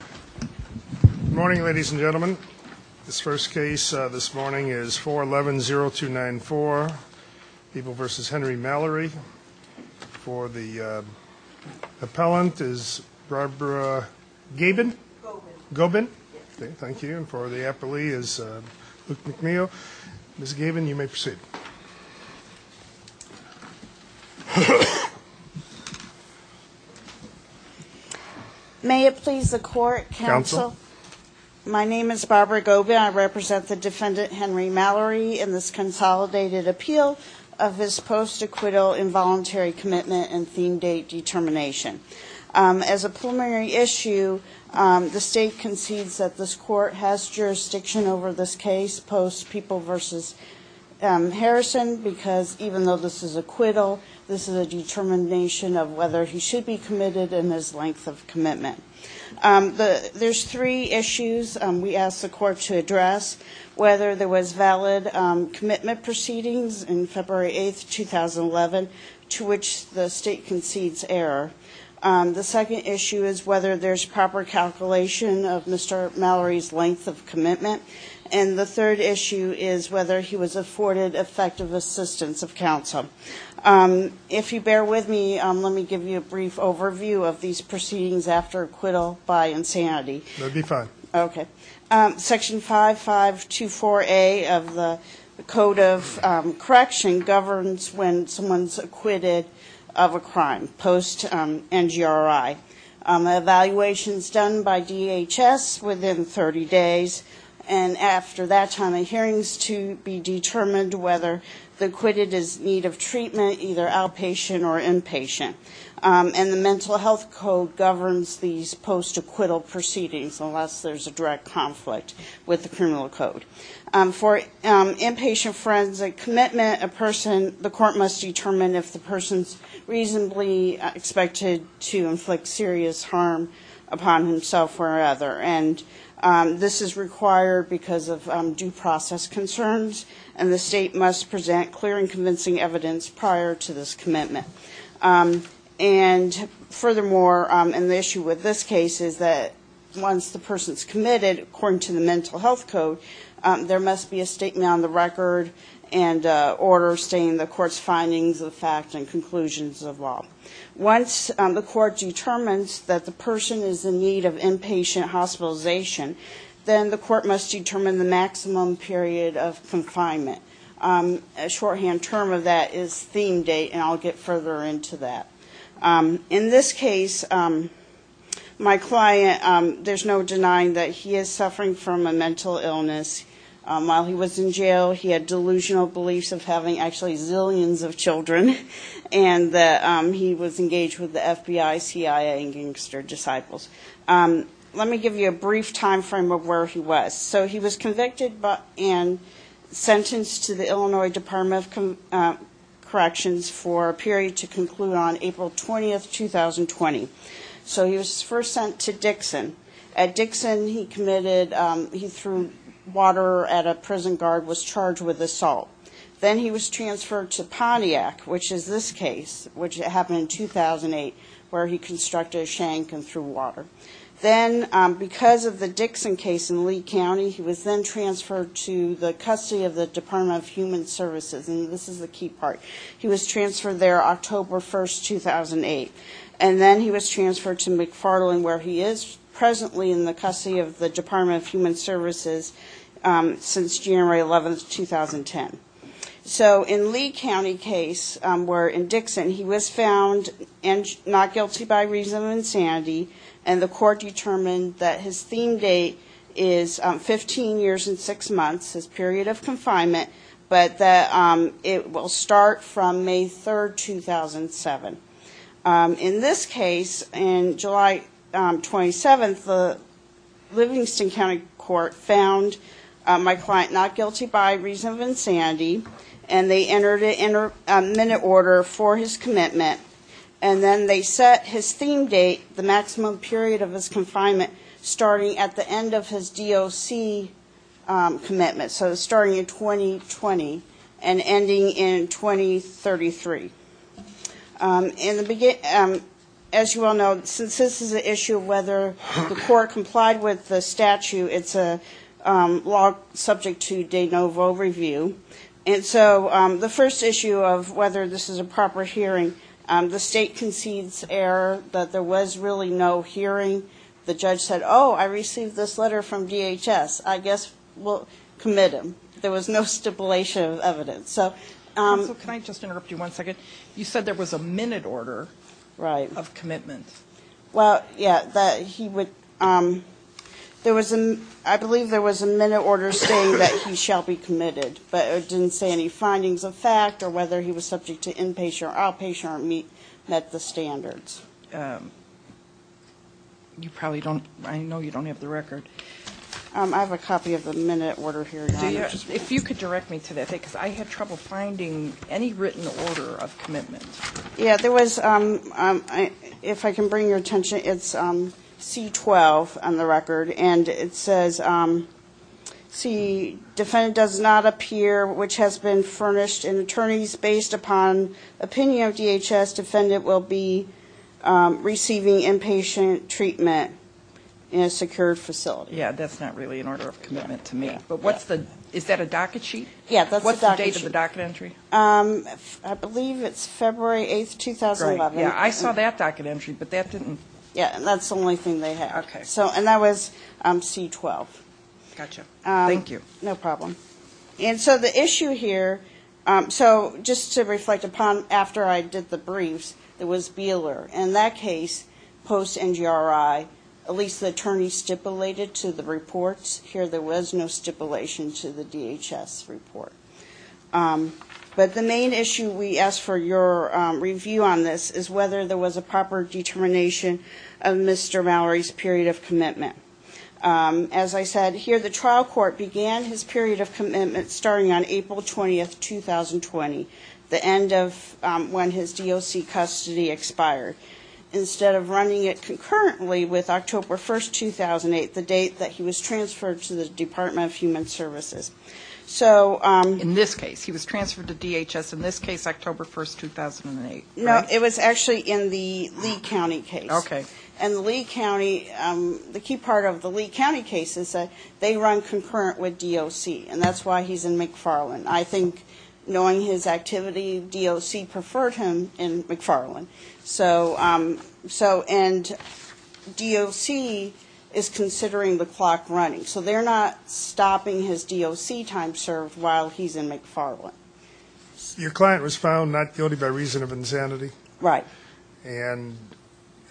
Good morning, ladies and gentlemen. This first case this morning is 4-11-0294, People v. Henry Mallory. For the appellant is Barbara Gabin? Gobin. Gobin? Thank you. And for the appellee is Luke McNeil. Ms. Gabin, you may proceed. May it please the court, counsel? My name is Barbara Gobin. I represent the defendant Henry Mallory in this consolidated appeal of this post-acquittal involuntary commitment and theme date determination. As a preliminary issue, the state concedes that this court has jurisdiction over this case post People v. Harrison because even though this is acquittal, this is a determination of whether he should be committed and his length of commitment. There are three issues we ask the court to address, whether there was valid commitment proceedings in February 8, 2011, to which the state concedes error. The second issue is whether there's proper calculation of Mr. Mallory's length of commitment. And the third issue is whether he was afforded effective assistance of counsel. If you bear with me, let me give you a brief overview of these proceedings after acquittal by insanity. That would be fine. Okay. Section 5524A of the Code of Correction governs when someone's acquitted of a crime post NGRI. Evaluation's done by DHS within 30 days. And after that time of hearings to be determined whether the acquitted is in need of treatment, either outpatient or inpatient. And the Mental Health Code governs these post-acquittal proceedings unless there's a direct conflict with the criminal code. For inpatient forensic commitment, the court must determine if the person's reasonably expected to inflict serious harm upon himself or other. And this is required because of due process concerns, and the state must present clear and convincing evidence prior to this commitment. And furthermore, and the issue with this case is that once the person's committed, according to the Mental Health Code, there must be a statement on the record and order stating the court's findings of fact and conclusions of law. Once the court determines that the person is in need of inpatient hospitalization, then the court must determine the maximum period of confinement. A shorthand term of that is theme date, and I'll get further into that. In this case, my client, there's no denying that he is suffering from a mental illness. While he was in jail, he had delusional beliefs of having actually zillions of children, and that he was engaged with the FBI, CIA, and gangster disciples. Let me give you a brief time frame of where he was. So he was convicted and sentenced to the Illinois Department of Corrections for a period to conclude on April 20, 2020. So he was first sent to Dixon. At Dixon, he committed, he threw water at a prison guard, was charged with assault. Then he was transferred to Pontiac, which is this case, which happened in 2008, where he constructed a shank and threw water. Then because of the Dixon case in Lee County, he was then transferred to the custody of the Department of Human Services, and this is the key part. He was transferred there October 1, 2008. And then he was transferred to McFarland, where he is presently in the custody of the Department of Human Services since January 11, 2010. So in Lee County case, where in Dixon, he was found not guilty by reason of insanity, and the court determined that his theme date is 15 years and 6 months, his period of confinement, but that it will start from May 3, 2007. In this case, in July 27, the Livingston County Court found my client not guilty by reason of insanity, and they entered a minute order for his commitment. And then they set his theme date, the maximum period of his confinement, starting at the end of his DOC commitment, so starting in 2020 and ending in 2033. As you all know, since this is an issue of whether the court complied with the statute, it's a law subject to de novo review. And so the first issue of whether this is a proper hearing, the state concedes error that there was really no hearing. The judge said, oh, I received this letter from DHS. I guess we'll commit him. There was no stipulation of evidence. So can I just interrupt you one second? You said there was a minute order of commitment. Well, yeah, that he would ‑‑ I believe there was a minute order saying that he shall be committed, but it didn't say any findings of fact or whether he was subject to inpatient or outpatient or met the standards. You probably don't ‑‑ I know you don't have the record. I have a copy of the minute order here. If you could direct me to that, because I had trouble finding any written order of commitment. Yeah, there was ‑‑ if I can bring your attention, it's C12 on the record, and it says, see, defendant does not appear which has been furnished in attorneys based upon opinion of DHS. Defendant will be receiving inpatient treatment in a secured facility. Yeah, that's not really an order of commitment to me. But what's the ‑‑ is that a docket sheet? Yeah, that's a docket sheet. What's the date of the docket entry? I believe it's February 8th, 2011. Great. Yeah, I saw that docket entry, but that didn't ‑‑ Yeah, and that's the only thing they had. Okay. And that was C12. Gotcha. Thank you. No problem. And so the issue here, so just to reflect upon after I did the briefs, there was Beeler. In that case, post NGRI, at least the attorney stipulated to the reports, here there was no stipulation to the DHS report. But the main issue we ask for your review on this is whether there was a proper determination of Mr. Mallory's period of commitment. As I said, here the trial court began his period of commitment starting on April 20th, 2020, the end of when his DOC custody expired, instead of running it concurrently with October 1st, 2008, the date that he was transferred to the Department of Human Services. In this case, he was transferred to DHS in this case, October 1st, 2008, right? No, it was actually in the Lee County case. Okay. And the Lee County, the key part of the Lee County case is that they run concurrent with DOC, and that's why he's in McFarland. I think knowing his activity, DOC preferred him in McFarland. And DOC is considering the clock running. So they're not stopping his DOC time served while he's in McFarland. Your client was found not guilty by reason of insanity. Right. And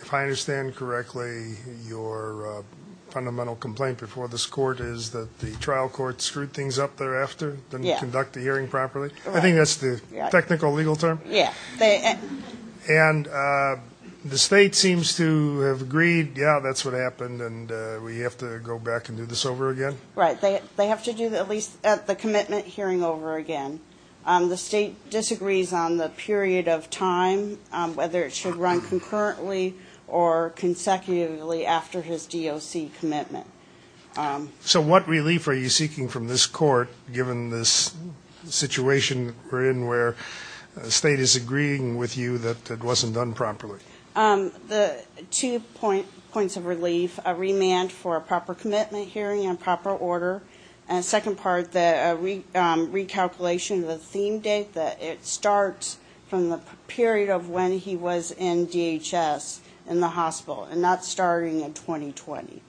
if I understand correctly, your fundamental complaint before this court is that the trial court screwed things up thereafter, didn't conduct the hearing properly. I think that's the technical legal term. Yeah. And the state seems to have agreed, yeah, that's what happened, and we have to go back and do this over again? Right. They have to do at least the commitment hearing over again. The state disagrees on the period of time, whether it should run concurrently or consecutively after his DOC commitment. So what relief are you seeking from this court, given this situation we're in where the state is agreeing with you that it wasn't done properly? The two points of relief, a remand for a proper commitment hearing in proper order, and second part, the recalculation of the theme date, that it starts from the period of when he was in DHS in the hospital and not starting in 2020.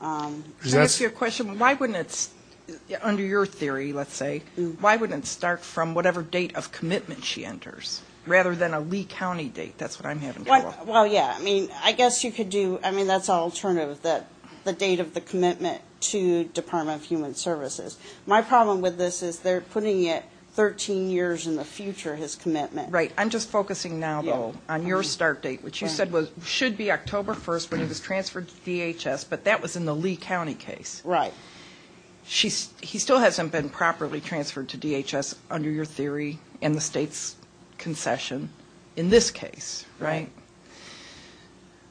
Does that answer your question? Why wouldn't it, under your theory, let's say, why wouldn't it start from whatever date of commitment she enters, rather than a Lee County date? That's what I'm having trouble with. Well, yeah, I mean, I guess you could do, I mean, that's an alternative, the date of the commitment to Department of Human Services. My problem with this is they're putting it 13 years in the future, his commitment. Right. I'm just focusing now, though, on your start date, which you said should be October 1st when he was transferred to DHS, but that was in the Lee County case. Right. He still hasn't been properly transferred to DHS under your theory and the state's concession in this case, right?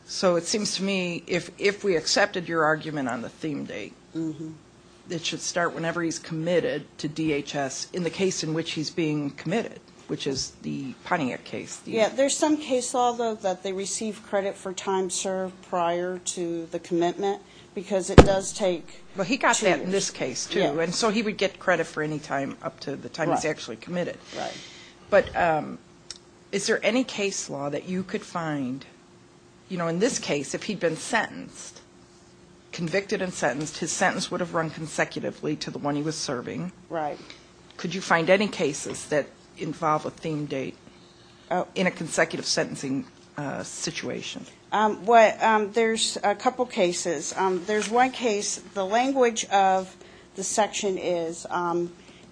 So it seems to me if we accepted your argument on the theme date, it should start whenever he's committed to DHS in the case in which he's being committed, which is the Pontiac case. Yeah, there's some case law, though, that they receive credit for time served prior to the commitment because it does take two. Well, he got that in this case, too, and so he would get credit for any time up to the time he's actually committed. Right. But is there any case law that you could find, you know, in this case, if he'd been sentenced, convicted and sentenced, his sentence would have run consecutively to the one he was serving. Right. Could you find any cases that involve a theme date in a consecutive sentencing situation? There's a couple cases. There's one case, the language of the section is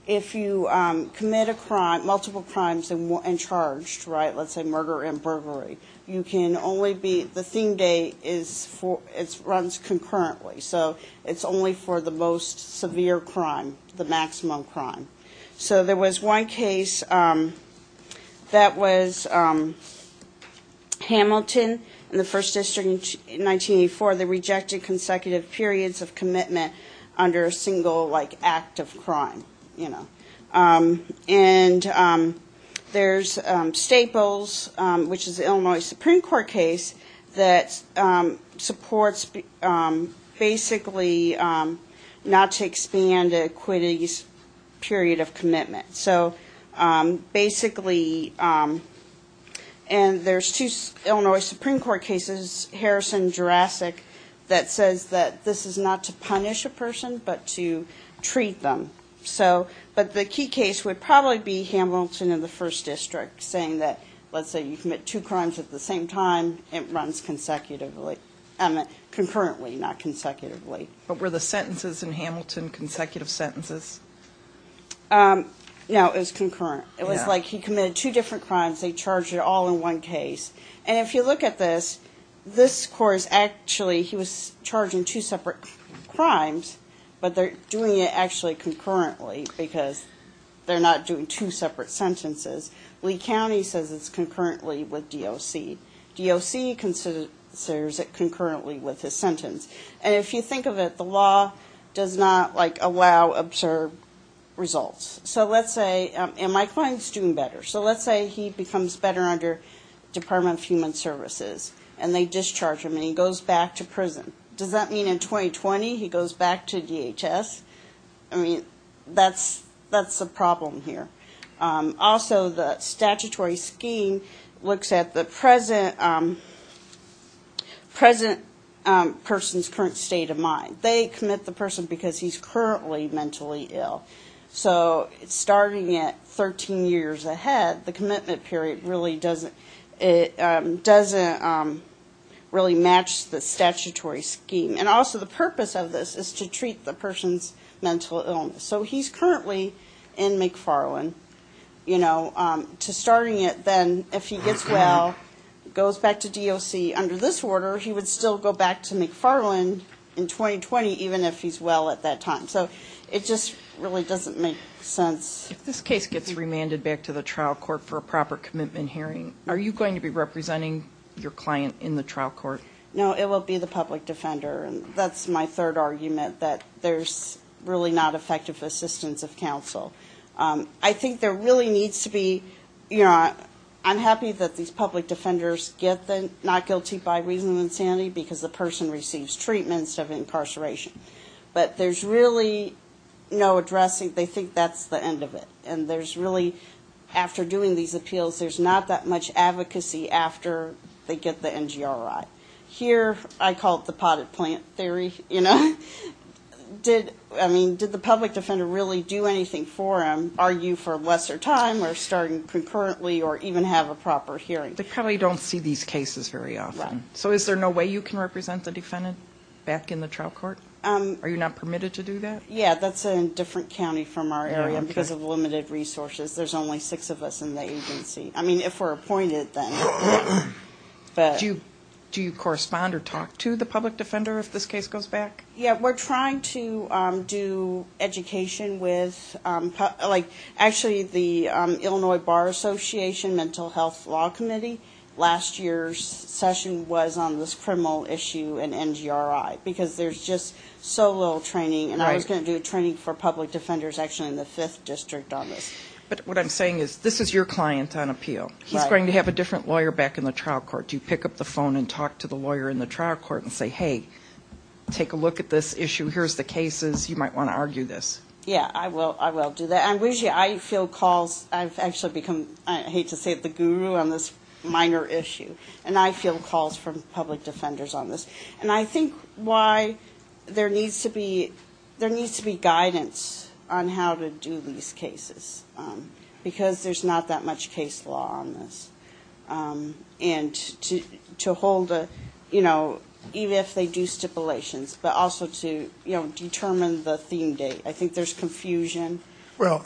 if you commit a crime, multiple crimes and charged, right, let's say murder and burglary, you can only be, the theme date runs concurrently, so it's only for the most severe crime, the maximum crime. So there was one case that was Hamilton in the First District in 1984. They rejected consecutive periods of commitment under a single, like, act of crime, you know. And there's Staples, which is an Illinois Supreme Court case, that supports basically not to expand an acquittee's period of commitment. So basically, and there's two Illinois Supreme Court cases, Harrison, Jurassic, that says that this is not to punish a person but to treat them. So, but the key case would probably be Hamilton in the First District saying that, let's say you commit two crimes at the same time, it runs consecutively, I mean concurrently, not consecutively. But were the sentences in Hamilton consecutive sentences? No, it was concurrent. It was like he committed two different crimes, they charged it all in one case. And if you look at this, this court is actually, he was charging two separate crimes, but they're doing it actually concurrently because they're not doing two separate sentences. Lee County says it's concurrently with DOC. DOC considers it concurrently with his sentence. And if you think of it, the law does not, like, allow observed results. So let's say, and my client's doing better, so let's say he becomes better under Department of Human Services, and they discharge him and he goes back to prison. Does that mean in 2020 he goes back to DHS? I mean, that's a problem here. Also, the statutory scheme looks at the present person's current state of mind. They commit the person because he's currently mentally ill. So starting at 13 years ahead, the commitment period really doesn't really match the statutory scheme. And also the purpose of this is to treat the person's mental illness. So he's currently in McFarland. You know, to starting it then, if he gets well, goes back to DOC under this order, he would still go back to McFarland in 2020 even if he's well at that time. So it just really doesn't make sense. If this case gets remanded back to the trial court for a proper commitment hearing, are you going to be representing your client in the trial court? No, it will be the public defender. And that's my third argument, that there's really not effective assistance of counsel. I think there really needs to be, you know, I'm happy that these public defenders get the not guilty by reason of insanity because the person receives treatment instead of incarceration. But there's really no addressing. They think that's the end of it. And there's really, after doing these appeals, there's not that much advocacy after they get the NGRI. Here, I call it the potted plant theory, you know. I mean, did the public defender really do anything for him? Are you for lesser time or starting concurrently or even have a proper hearing? They probably don't see these cases very often. So is there no way you can represent the defendant back in the trial court? Are you not permitted to do that? Yeah, that's in a different county from our area because of limited resources. There's only six of us in the agency. I mean, if we're appointed, then. Do you correspond or talk to the public defender if this case goes back? Yeah, we're trying to do education with like actually the Illinois Bar Association Mental Health Law Committee. Last year's session was on this criminal issue and NGRI because there's just so little training. And I was going to do training for public defenders actually in the 5th District on this. But what I'm saying is this is your client on appeal. He's going to have a different lawyer back in the trial court. Do you pick up the phone and talk to the lawyer in the trial court and say, hey, take a look at this issue. Here's the cases. You might want to argue this. Yeah, I will. I will do that. I feel calls. I've actually become, I hate to say it, the guru on this minor issue. And I feel calls from public defenders on this. And I think why there needs to be guidance on how to do these cases because there's not that much case law. And to hold, you know, even if they do stipulations, but also to, you know, determine the theme date. I think there's confusion. Well,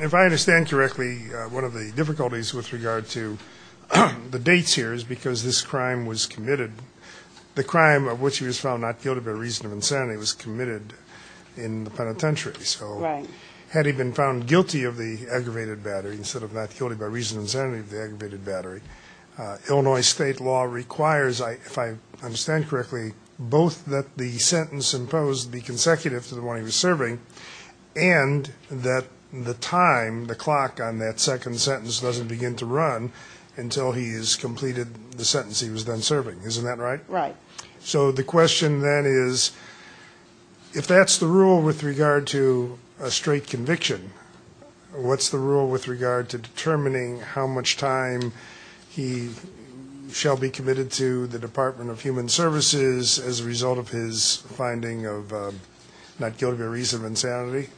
if I understand correctly, one of the difficulties with regard to the dates here is because this crime was committed. The crime of which he was found not guilty by reason of insanity was committed in the penitentiary. Right. Had he been found guilty of the aggravated battery instead of not guilty by reason of insanity of the aggravated battery, Illinois state law requires, if I understand correctly, both that the sentence imposed be consecutive to the one he was serving and that the time, the clock on that second sentence doesn't begin to run until he has completed the sentence he was then serving. Isn't that right? Right. So the question then is, if that's the rule with regard to a straight conviction, what's the rule with regard to determining how much time he shall be committed to the Department of Human Services as a result of his finding of not guilty by reason of insanity?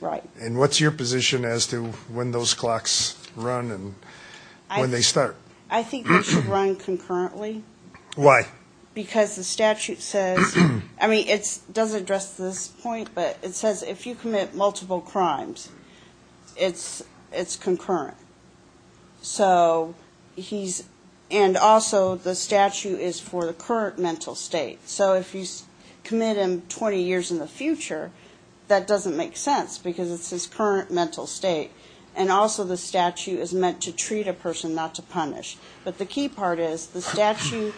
Right. And what's your position as to when those clocks run and when they start? I think they should run concurrently. Why? Because the statute says, I mean, it does address this point, but it says if you commit multiple crimes, it's concurrent. So he's, and also the statute is for the current mental state. So if you commit him 20 years in the future, that doesn't make sense because it's his current mental state. And also the statute is meant to treat a person, not to punish. But the key part is the statute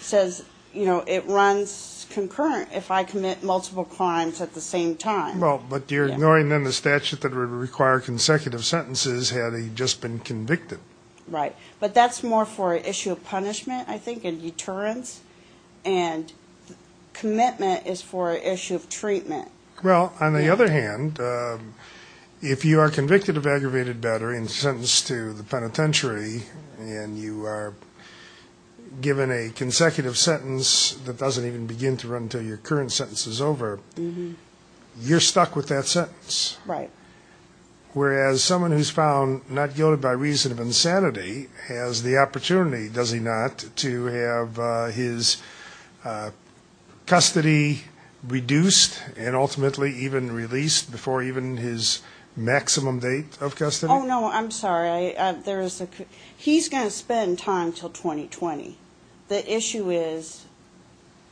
says, you know, it runs concurrent if I commit multiple crimes at the same time. Well, but you're ignoring then the statute that would require consecutive sentences had he just been convicted. Right. But that's more for an issue of punishment, I think, and deterrence. And commitment is for an issue of treatment. Well, on the other hand, if you are convicted of aggravated battery and sentenced to the penitentiary, and you are given a consecutive sentence that doesn't even begin to run until your current sentence is over, you're stuck with that sentence. Right. And ultimately even released before even his maximum date of custody? Oh, no. I'm sorry. There is a, he's going to spend time until 2020. The issue is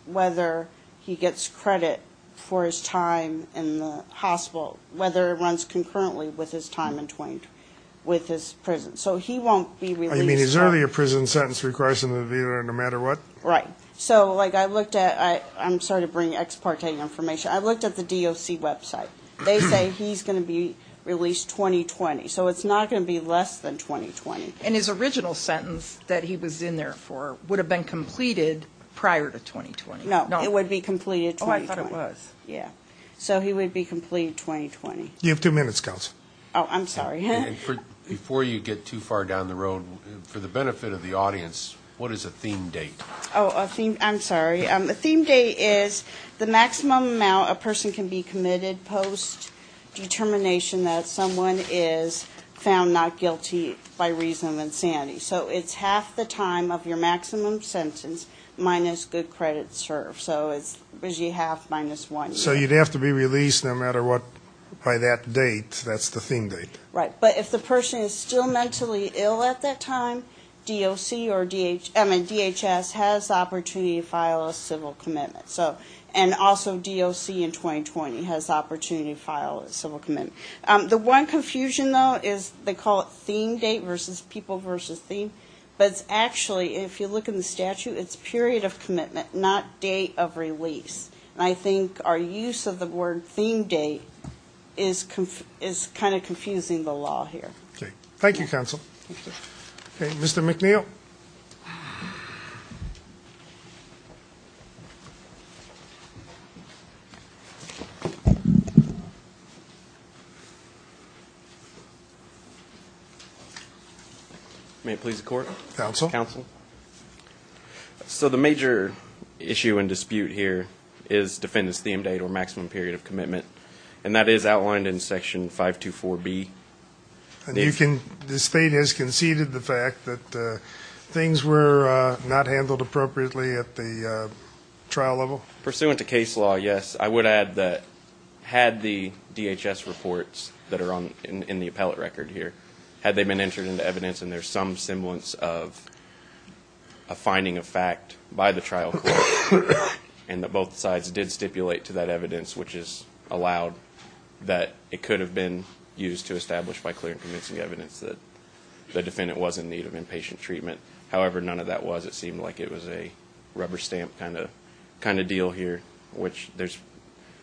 whether he gets credit for his time in the hospital, whether it runs concurrently with his time in 2020, with his prison. So he won't be released. You mean his earlier prison sentence requires him to be there no matter what? Right. So, like, I looked at, I'm sorry to bring ex parte information. I looked at the DOC website. They say he's going to be released 2020. So it's not going to be less than 2020. And his original sentence that he was in there for would have been completed prior to 2020? No, it would be completed 2020. Oh, I thought it was. Yeah. So he would be completed 2020. You have two minutes, Counsel. Oh, I'm sorry. Before you get too far down the road, for the benefit of the audience, what is a theme date? Oh, a theme, I'm sorry. A theme date is the maximum amount a person can be committed post determination that someone is found not guilty by reason of insanity. So it's half the time of your maximum sentence minus good credit served. So it's usually half minus one. So you'd have to be released no matter what by that date. That's the theme date. Right. But if the person is still mentally ill at that time, DHS has the opportunity to file a civil commitment. And also DOC in 2020 has the opportunity to file a civil commitment. The one confusion, though, is they call it theme date versus people versus theme. But it's actually, if you look in the statute, it's period of commitment, not date of release. And I think our use of the word theme date is kind of confusing the law here. Thank you, Counsel. Mr. McNeil. May it please the Court? Counsel. So the major issue and dispute here is defendant's theme date or maximum period of commitment. And that is outlined in Section 524B. And this State has conceded the fact that things were not handled appropriately at the trial level? Pursuant to case law, yes. I would add that had the DHS reports that are in the appellate record here, had they been entered into evidence and there's some semblance of a finding of fact by the trial court and that both sides did stipulate to that evidence, which has allowed that it could have been used to establish by clear and convincing evidence that the defendant was in need of inpatient treatment. However, none of that was. It seemed like it was a rubber stamp kind of deal here, which there's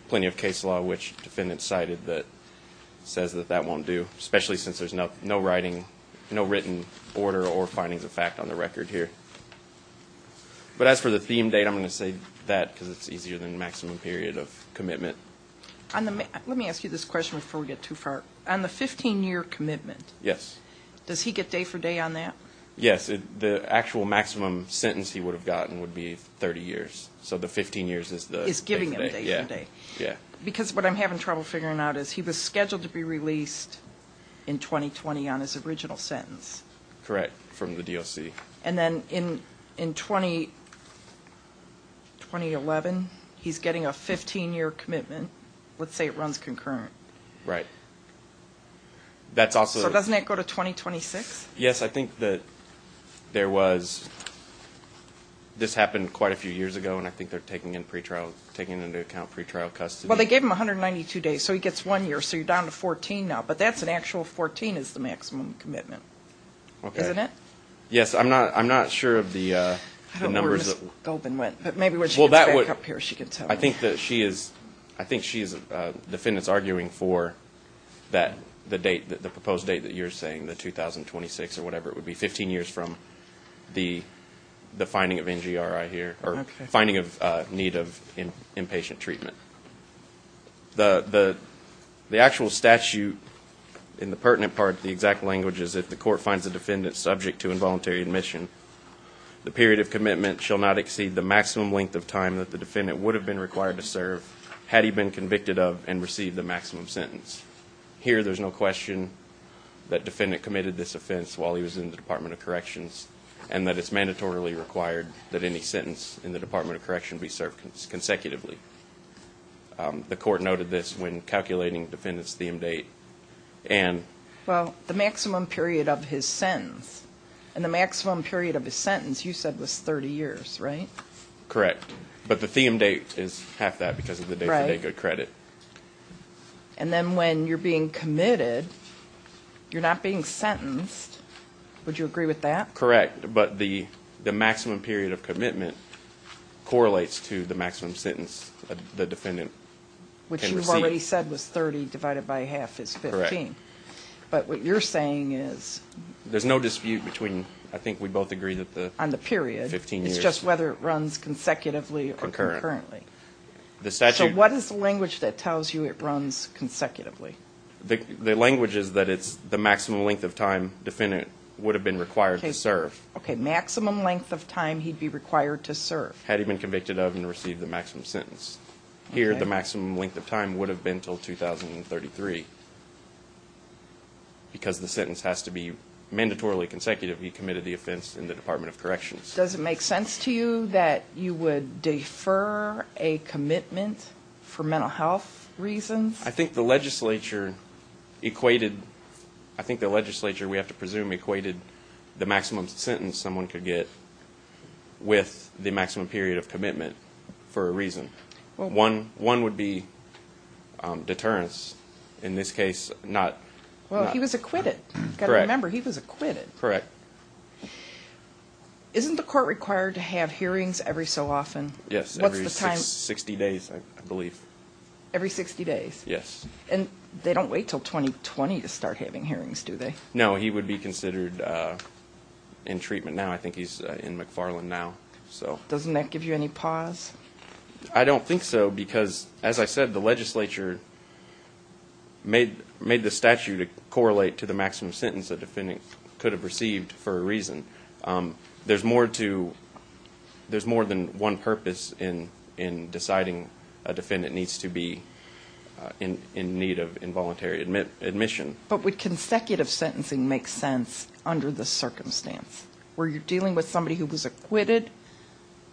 plenty of case law which defendants cited that says that that won't do, especially since there's no writing, no written order or findings of fact on the record here. But as for the theme date, I'm going to say that because it's easier than the maximum period of commitment. Let me ask you this question before we get too far. On the 15-year commitment, does he get day for day on that? Yes. The actual maximum sentence he would have gotten would be 30 years. So the 15 years is the day for day. Is giving him day for day. Yeah. Because what I'm having trouble figuring out is he was scheduled to be released in 2020 on his original sentence. Correct, from the DOC. And then in 2011, he's getting a 15-year commitment. Let's say it runs concurrent. Right. So doesn't that go to 2026? Yes. I think that there was this happened quite a few years ago, and I think they're taking into account pretrial custody. Well, they gave him 192 days, so he gets one year, so you're down to 14 now. But that's an actual 14 is the maximum commitment. Okay. Isn't it? I'm not sure of the numbers. I don't know where Ms. Goldman went, but maybe when she gets back up here, she can tell me. I think she is defendants arguing for the proposed date that you're saying, the 2026 or whatever. It would be 15 years from the finding of NGRI here, or finding of need of inpatient treatment. The actual statute in the pertinent part, the exact language, is if the court finds a defendant subject to involuntary admission, the period of commitment shall not exceed the maximum length of time that the defendant would have been required to serve, had he been convicted of and received the maximum sentence. Here, there's no question that defendant committed this offense while he was in the Department of Corrections, and that it's mandatorily required that any sentence in the Department of Correction be served consecutively. The court noted this when calculating defendant's theme date. Well, the maximum period of his sentence. And the maximum period of his sentence, you said, was 30 years, right? Correct. But the theme date is half that because of the day-to-day credit. And then when you're being committed, you're not being sentenced. Would you agree with that? Correct. But the maximum period of commitment correlates to the maximum sentence the defendant can receive. Which you've already said was 30 divided by half is 15. Correct. But what you're saying is... There's no dispute between... I think we both agree that the... On the period. Fifteen years. It's just whether it runs consecutively or concurrently. Concurrently. The statute. So what is the language that tells you it runs consecutively? The language is that it's the maximum length of time defendant would have been required to serve. Okay, maximum length of time he'd be required to serve. Had he been convicted of and received the maximum sentence. Here the maximum length of time would have been until 2033 because the sentence has to be mandatorily consecutive. He committed the offense in the Department of Corrections. Does it make sense to you that you would defer a commitment for mental health reasons? I think the legislature equated... I think the legislature, we have to presume, equated the maximum sentence someone could get with the maximum period of commitment for a reason. One would be deterrence. In this case, not... Well, he was acquitted. Correct. Remember, he was acquitted. Correct. Isn't the court required to have hearings every so often? Yes, every 60 days, I believe. Every 60 days? Yes. And they don't wait until 2020 to start having hearings, do they? No, he would be considered in treatment now. I think he's in McFarland now. Doesn't that give you any pause? I don't think so because, as I said, the legislature made the statute correlate to the maximum sentence a defendant could have received for a reason. There's more than one purpose in deciding a defendant needs to be in need of involuntary admission. But would consecutive sentencing make sense under the circumstance where you're dealing with somebody who was acquitted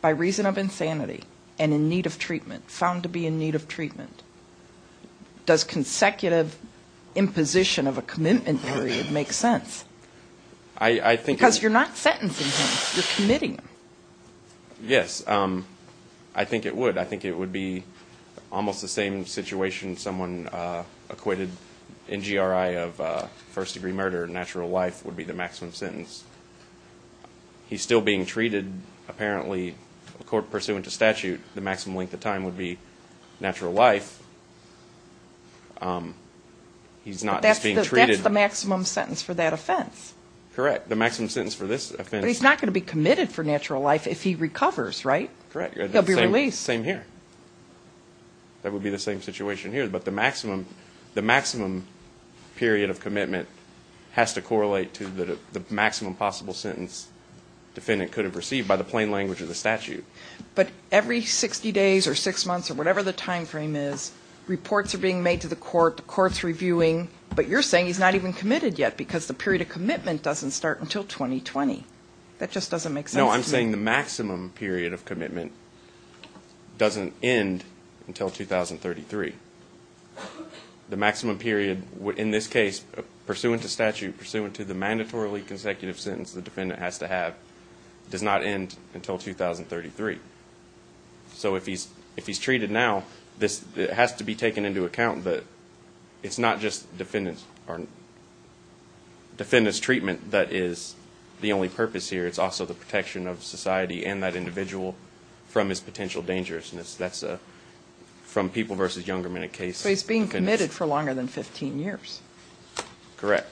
by reason of insanity and in need of treatment, found to be in need of treatment? Does consecutive imposition of a commitment period make sense? I think... Because you're not sentencing him. You're committing him. Yes, I think it would. I think it would be almost the same situation someone acquitted NGRI of first-degree murder, natural life, would be the maximum sentence. He's still being treated, apparently, pursuant to statute. The maximum length of time would be natural life. He's not just being treated. That's the maximum sentence for that offense. Correct. The maximum sentence for this offense. But he's not going to be committed for natural life if he recovers, right? Correct. He'll be released. Same here. That would be the same situation here. But the maximum period of commitment has to correlate to the maximum possible sentence defendant could have received by the plain language of the statute. But every 60 days or six months or whatever the time frame is, reports are being made to the court, the court's reviewing. But you're saying he's not even committed yet because the period of commitment doesn't start until 2020. That just doesn't make sense to me. No, I'm saying the maximum period of commitment doesn't end until 2033. The maximum period in this case, pursuant to statute, pursuant to the mandatorily consecutive sentence the defendant has to have, does not end until 2033. So if he's treated now, it has to be taken into account that it's not just defendant's treatment that is the only purpose here. It's also the protection of society and that individual from his potential dangerousness. That's from people versus younger men in a case. So he's being committed for longer than 15 years. Correct.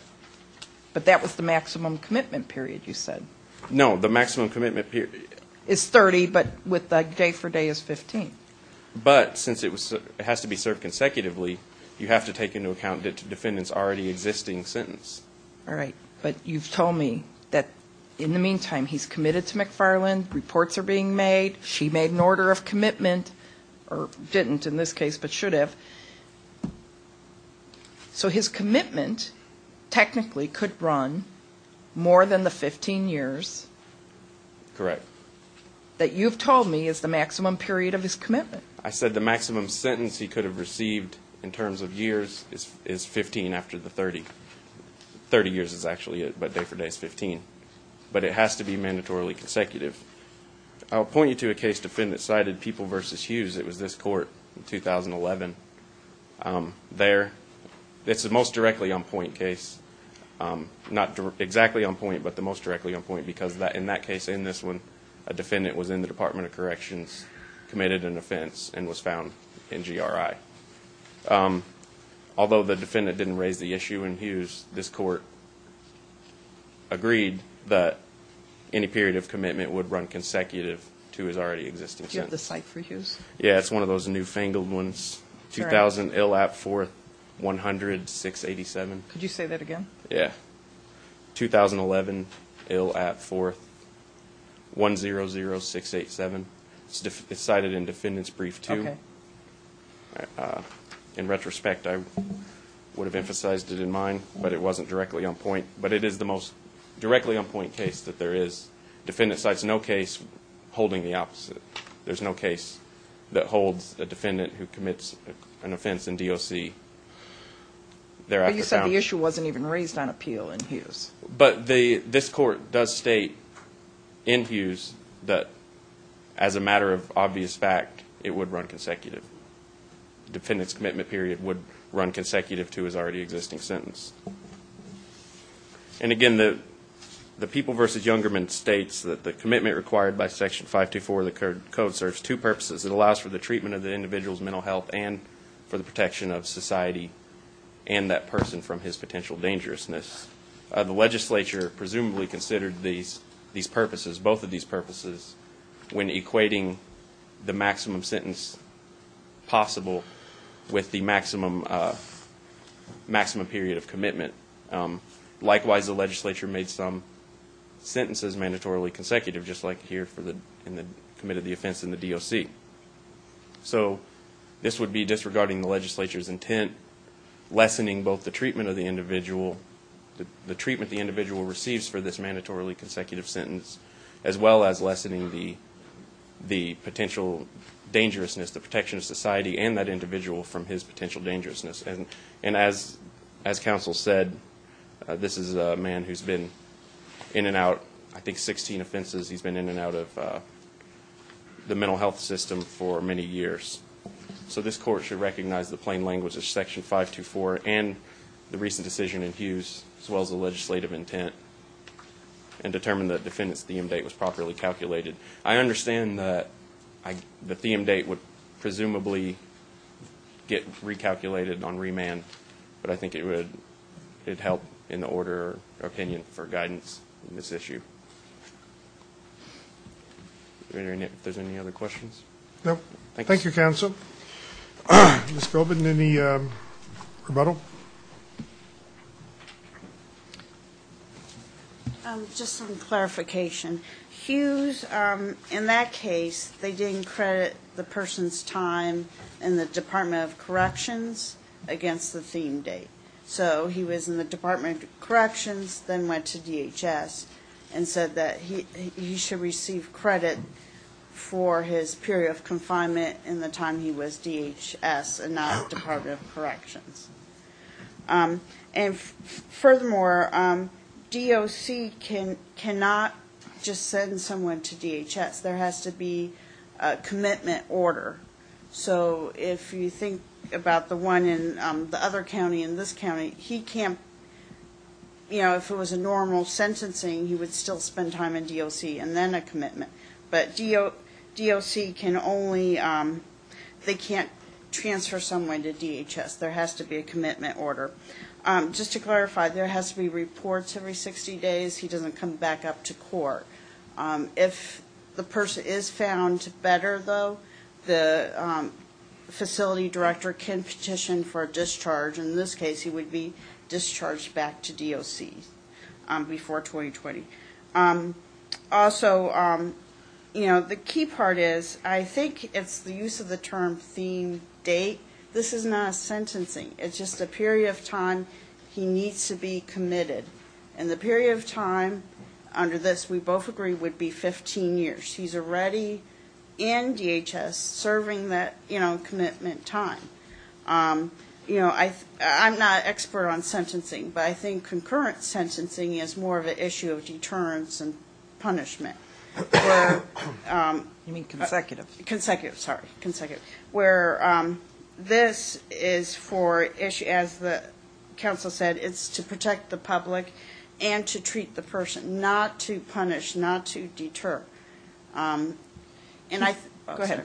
But that was the maximum commitment period you said. No, the maximum commitment period. Is 30 but with the day for day is 15. But since it has to be served consecutively, you have to take into account the defendant's already existing sentence. All right. But you've told me that in the meantime he's committed to McFarland, reports are being made, she made an order of commitment, or didn't in this case but should have. So his commitment technically could run more than the 15 years. Correct. That you've told me is the maximum period of his commitment. I said the maximum sentence he could have received in terms of years is 15 after the 30. 30 years is actually it, but day for day is 15. But it has to be mandatorily consecutive. I'll point you to a case defendant cited, People versus Hughes. It was this court in 2011. There, it's the most directly on point case, not exactly on point but the most directly on point because in that case, in this one, a defendant was in the Department of Corrections, committed an offense, and was found in GRI. Although the defendant didn't raise the issue in Hughes, this court agreed that any period of commitment would run consecutive to his already existing sentence. Yeah, it's one of those newfangled ones. Correct. 2000, ill at fourth, 100, 687. Could you say that again? Yeah. 2011, ill at fourth, 100, 687. It's cited in defendant's brief too. Okay. In retrospect, I would have emphasized it in mine, but it wasn't directly on point. But it is the most directly on point case that there is. Defendant cites no case holding the opposite. There's no case that holds a defendant who commits an offense in DOC. You said the issue wasn't even raised on appeal in Hughes. But this court does state in Hughes that as a matter of obvious fact, it would run consecutive. Defendant's commitment period would run consecutive to his already existing sentence. And, again, the People v. Youngerman states that the commitment required by Section 524 of the Code serves two purposes. It allows for the treatment of the individual's mental health and for the protection of society and that person from his potential dangerousness. The legislature presumably considered these purposes, both of these purposes, when equating the maximum sentence possible with the maximum period of commitment. Likewise, the legislature made some sentences mandatorily consecutive, just like here in the commit of the offense in the DOC. So this would be disregarding the legislature's intent, lessening both the treatment of the individual, the treatment the individual receives for this mandatorily consecutive sentence, as well as lessening the potential dangerousness, the protection of society and that individual from his potential dangerousness. And as counsel said, this is a man who's been in and out, I think, 16 offenses. He's been in and out of the mental health system for many years. So this court should recognize the plain language of Section 524 and the recent decision in Hughes, as well as the legislative intent, and determine the defendant's theme date was properly calculated. I understand that the theme date would presumably get recalculated on remand, but I think it would help in the order of opinion for guidance in this issue. If there's any other questions? No. Thank you, counsel. Ms. Colvin, any rebuttal? Just some clarification. Hughes, in that case, they didn't credit the person's time in the Department of Corrections against the theme date. So he was in the Department of Corrections, then went to DHS, and said that he should receive credit for his period of confinement in the time he was DHS and not Department of Corrections. And furthermore, DOC cannot just send someone to DHS. There has to be a commitment order. So if you think about the one in the other county, in this county, he can't, you know, if it was a normal sentencing, he would still spend time in DOC and then a commitment. But DOC can only, they can't transfer someone to DHS. There has to be a commitment order. Just to clarify, there has to be reports every 60 days. He doesn't come back up to court. If the person is found better, though, the facility director can petition for a discharge. In this case, he would be discharged back to DOC before 2020. Also, you know, the key part is I think it's the use of the term theme date. This is not sentencing. It's just a period of time he needs to be committed. And the period of time under this, we both agree, would be 15 years. He's already in DHS serving that, you know, commitment time. You know, I'm not an expert on sentencing, but I think concurrent sentencing is more of an issue of deterrence and punishment. You mean consecutive? Consecutive, sorry, consecutive, where this is for, as the counsel said, it's to protect the public and to treat the person, not to punish, not to deter. Go ahead.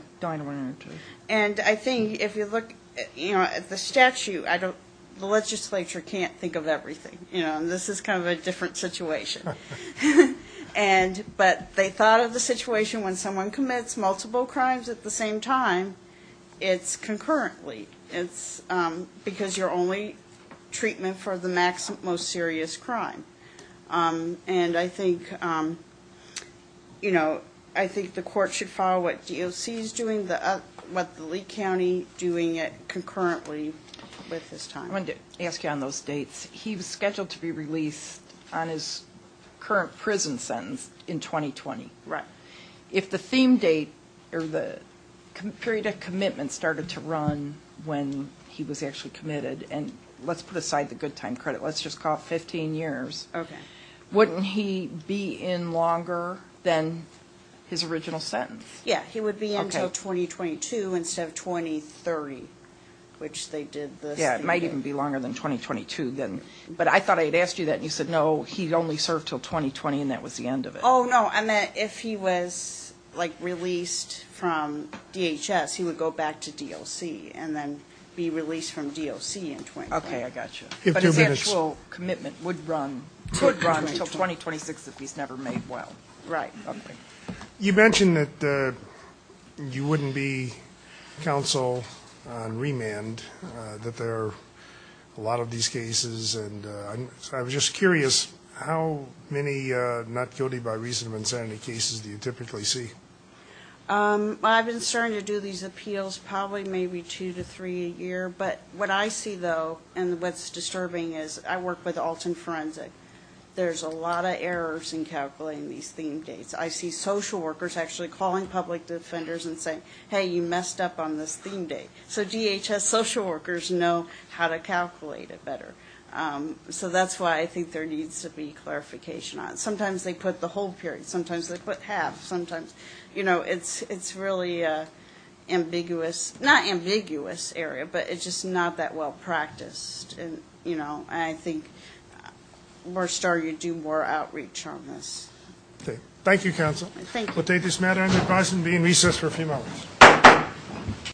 And I think if you look at the statute, the legislature can't think of everything. This is kind of a different situation. And but they thought of the situation when someone commits multiple crimes at the same time, it's concurrently. It's because you're only treatment for the maximum, most serious crime. And I think, you know, I think the court should follow what DOC is doing, what the Lee County doing it concurrently with this time. I wanted to ask you on those dates. He was scheduled to be released on his current prison sentence in 2020. Right. If the theme date or the period of commitment started to run when he was actually committed, and let's put aside the good time credit, let's just call it 15 years. Okay. Wouldn't he be in longer than his original sentence? Yeah, he would be in until 2022 instead of 2030, which they did this. It might even be longer than 2022 then. But I thought I had asked you that, and you said, no, he only served until 2020, and that was the end of it. Oh, no. And if he was, like, released from DHS, he would go back to DOC and then be released from DOC in 2020. Okay, I got you. But his actual commitment would run until 2026 if he's never made well. Right. Okay. You mentioned that you wouldn't be counsel on remand, that there are a lot of these cases. And I was just curious, how many not guilty by reason of insanity cases do you typically see? I've been starting to do these appeals probably maybe two to three a year. But what I see, though, and what's disturbing is I work with Alton Forensic. There's a lot of errors in calculating these theme dates. I see social workers actually calling public defenders and saying, hey, you messed up on this theme date. So DHS social workers know how to calculate it better. So that's why I think there needs to be clarification on it. Sometimes they put the whole period. Sometimes they put half. Sometimes, you know, it's really an ambiguous, not ambiguous area, but it's just not that well practiced. And, you know, I think we're starting to do more outreach on this. Okay. Thank you, counsel. Thank you. We'll take this matter under consideration and be in recess for a few moments.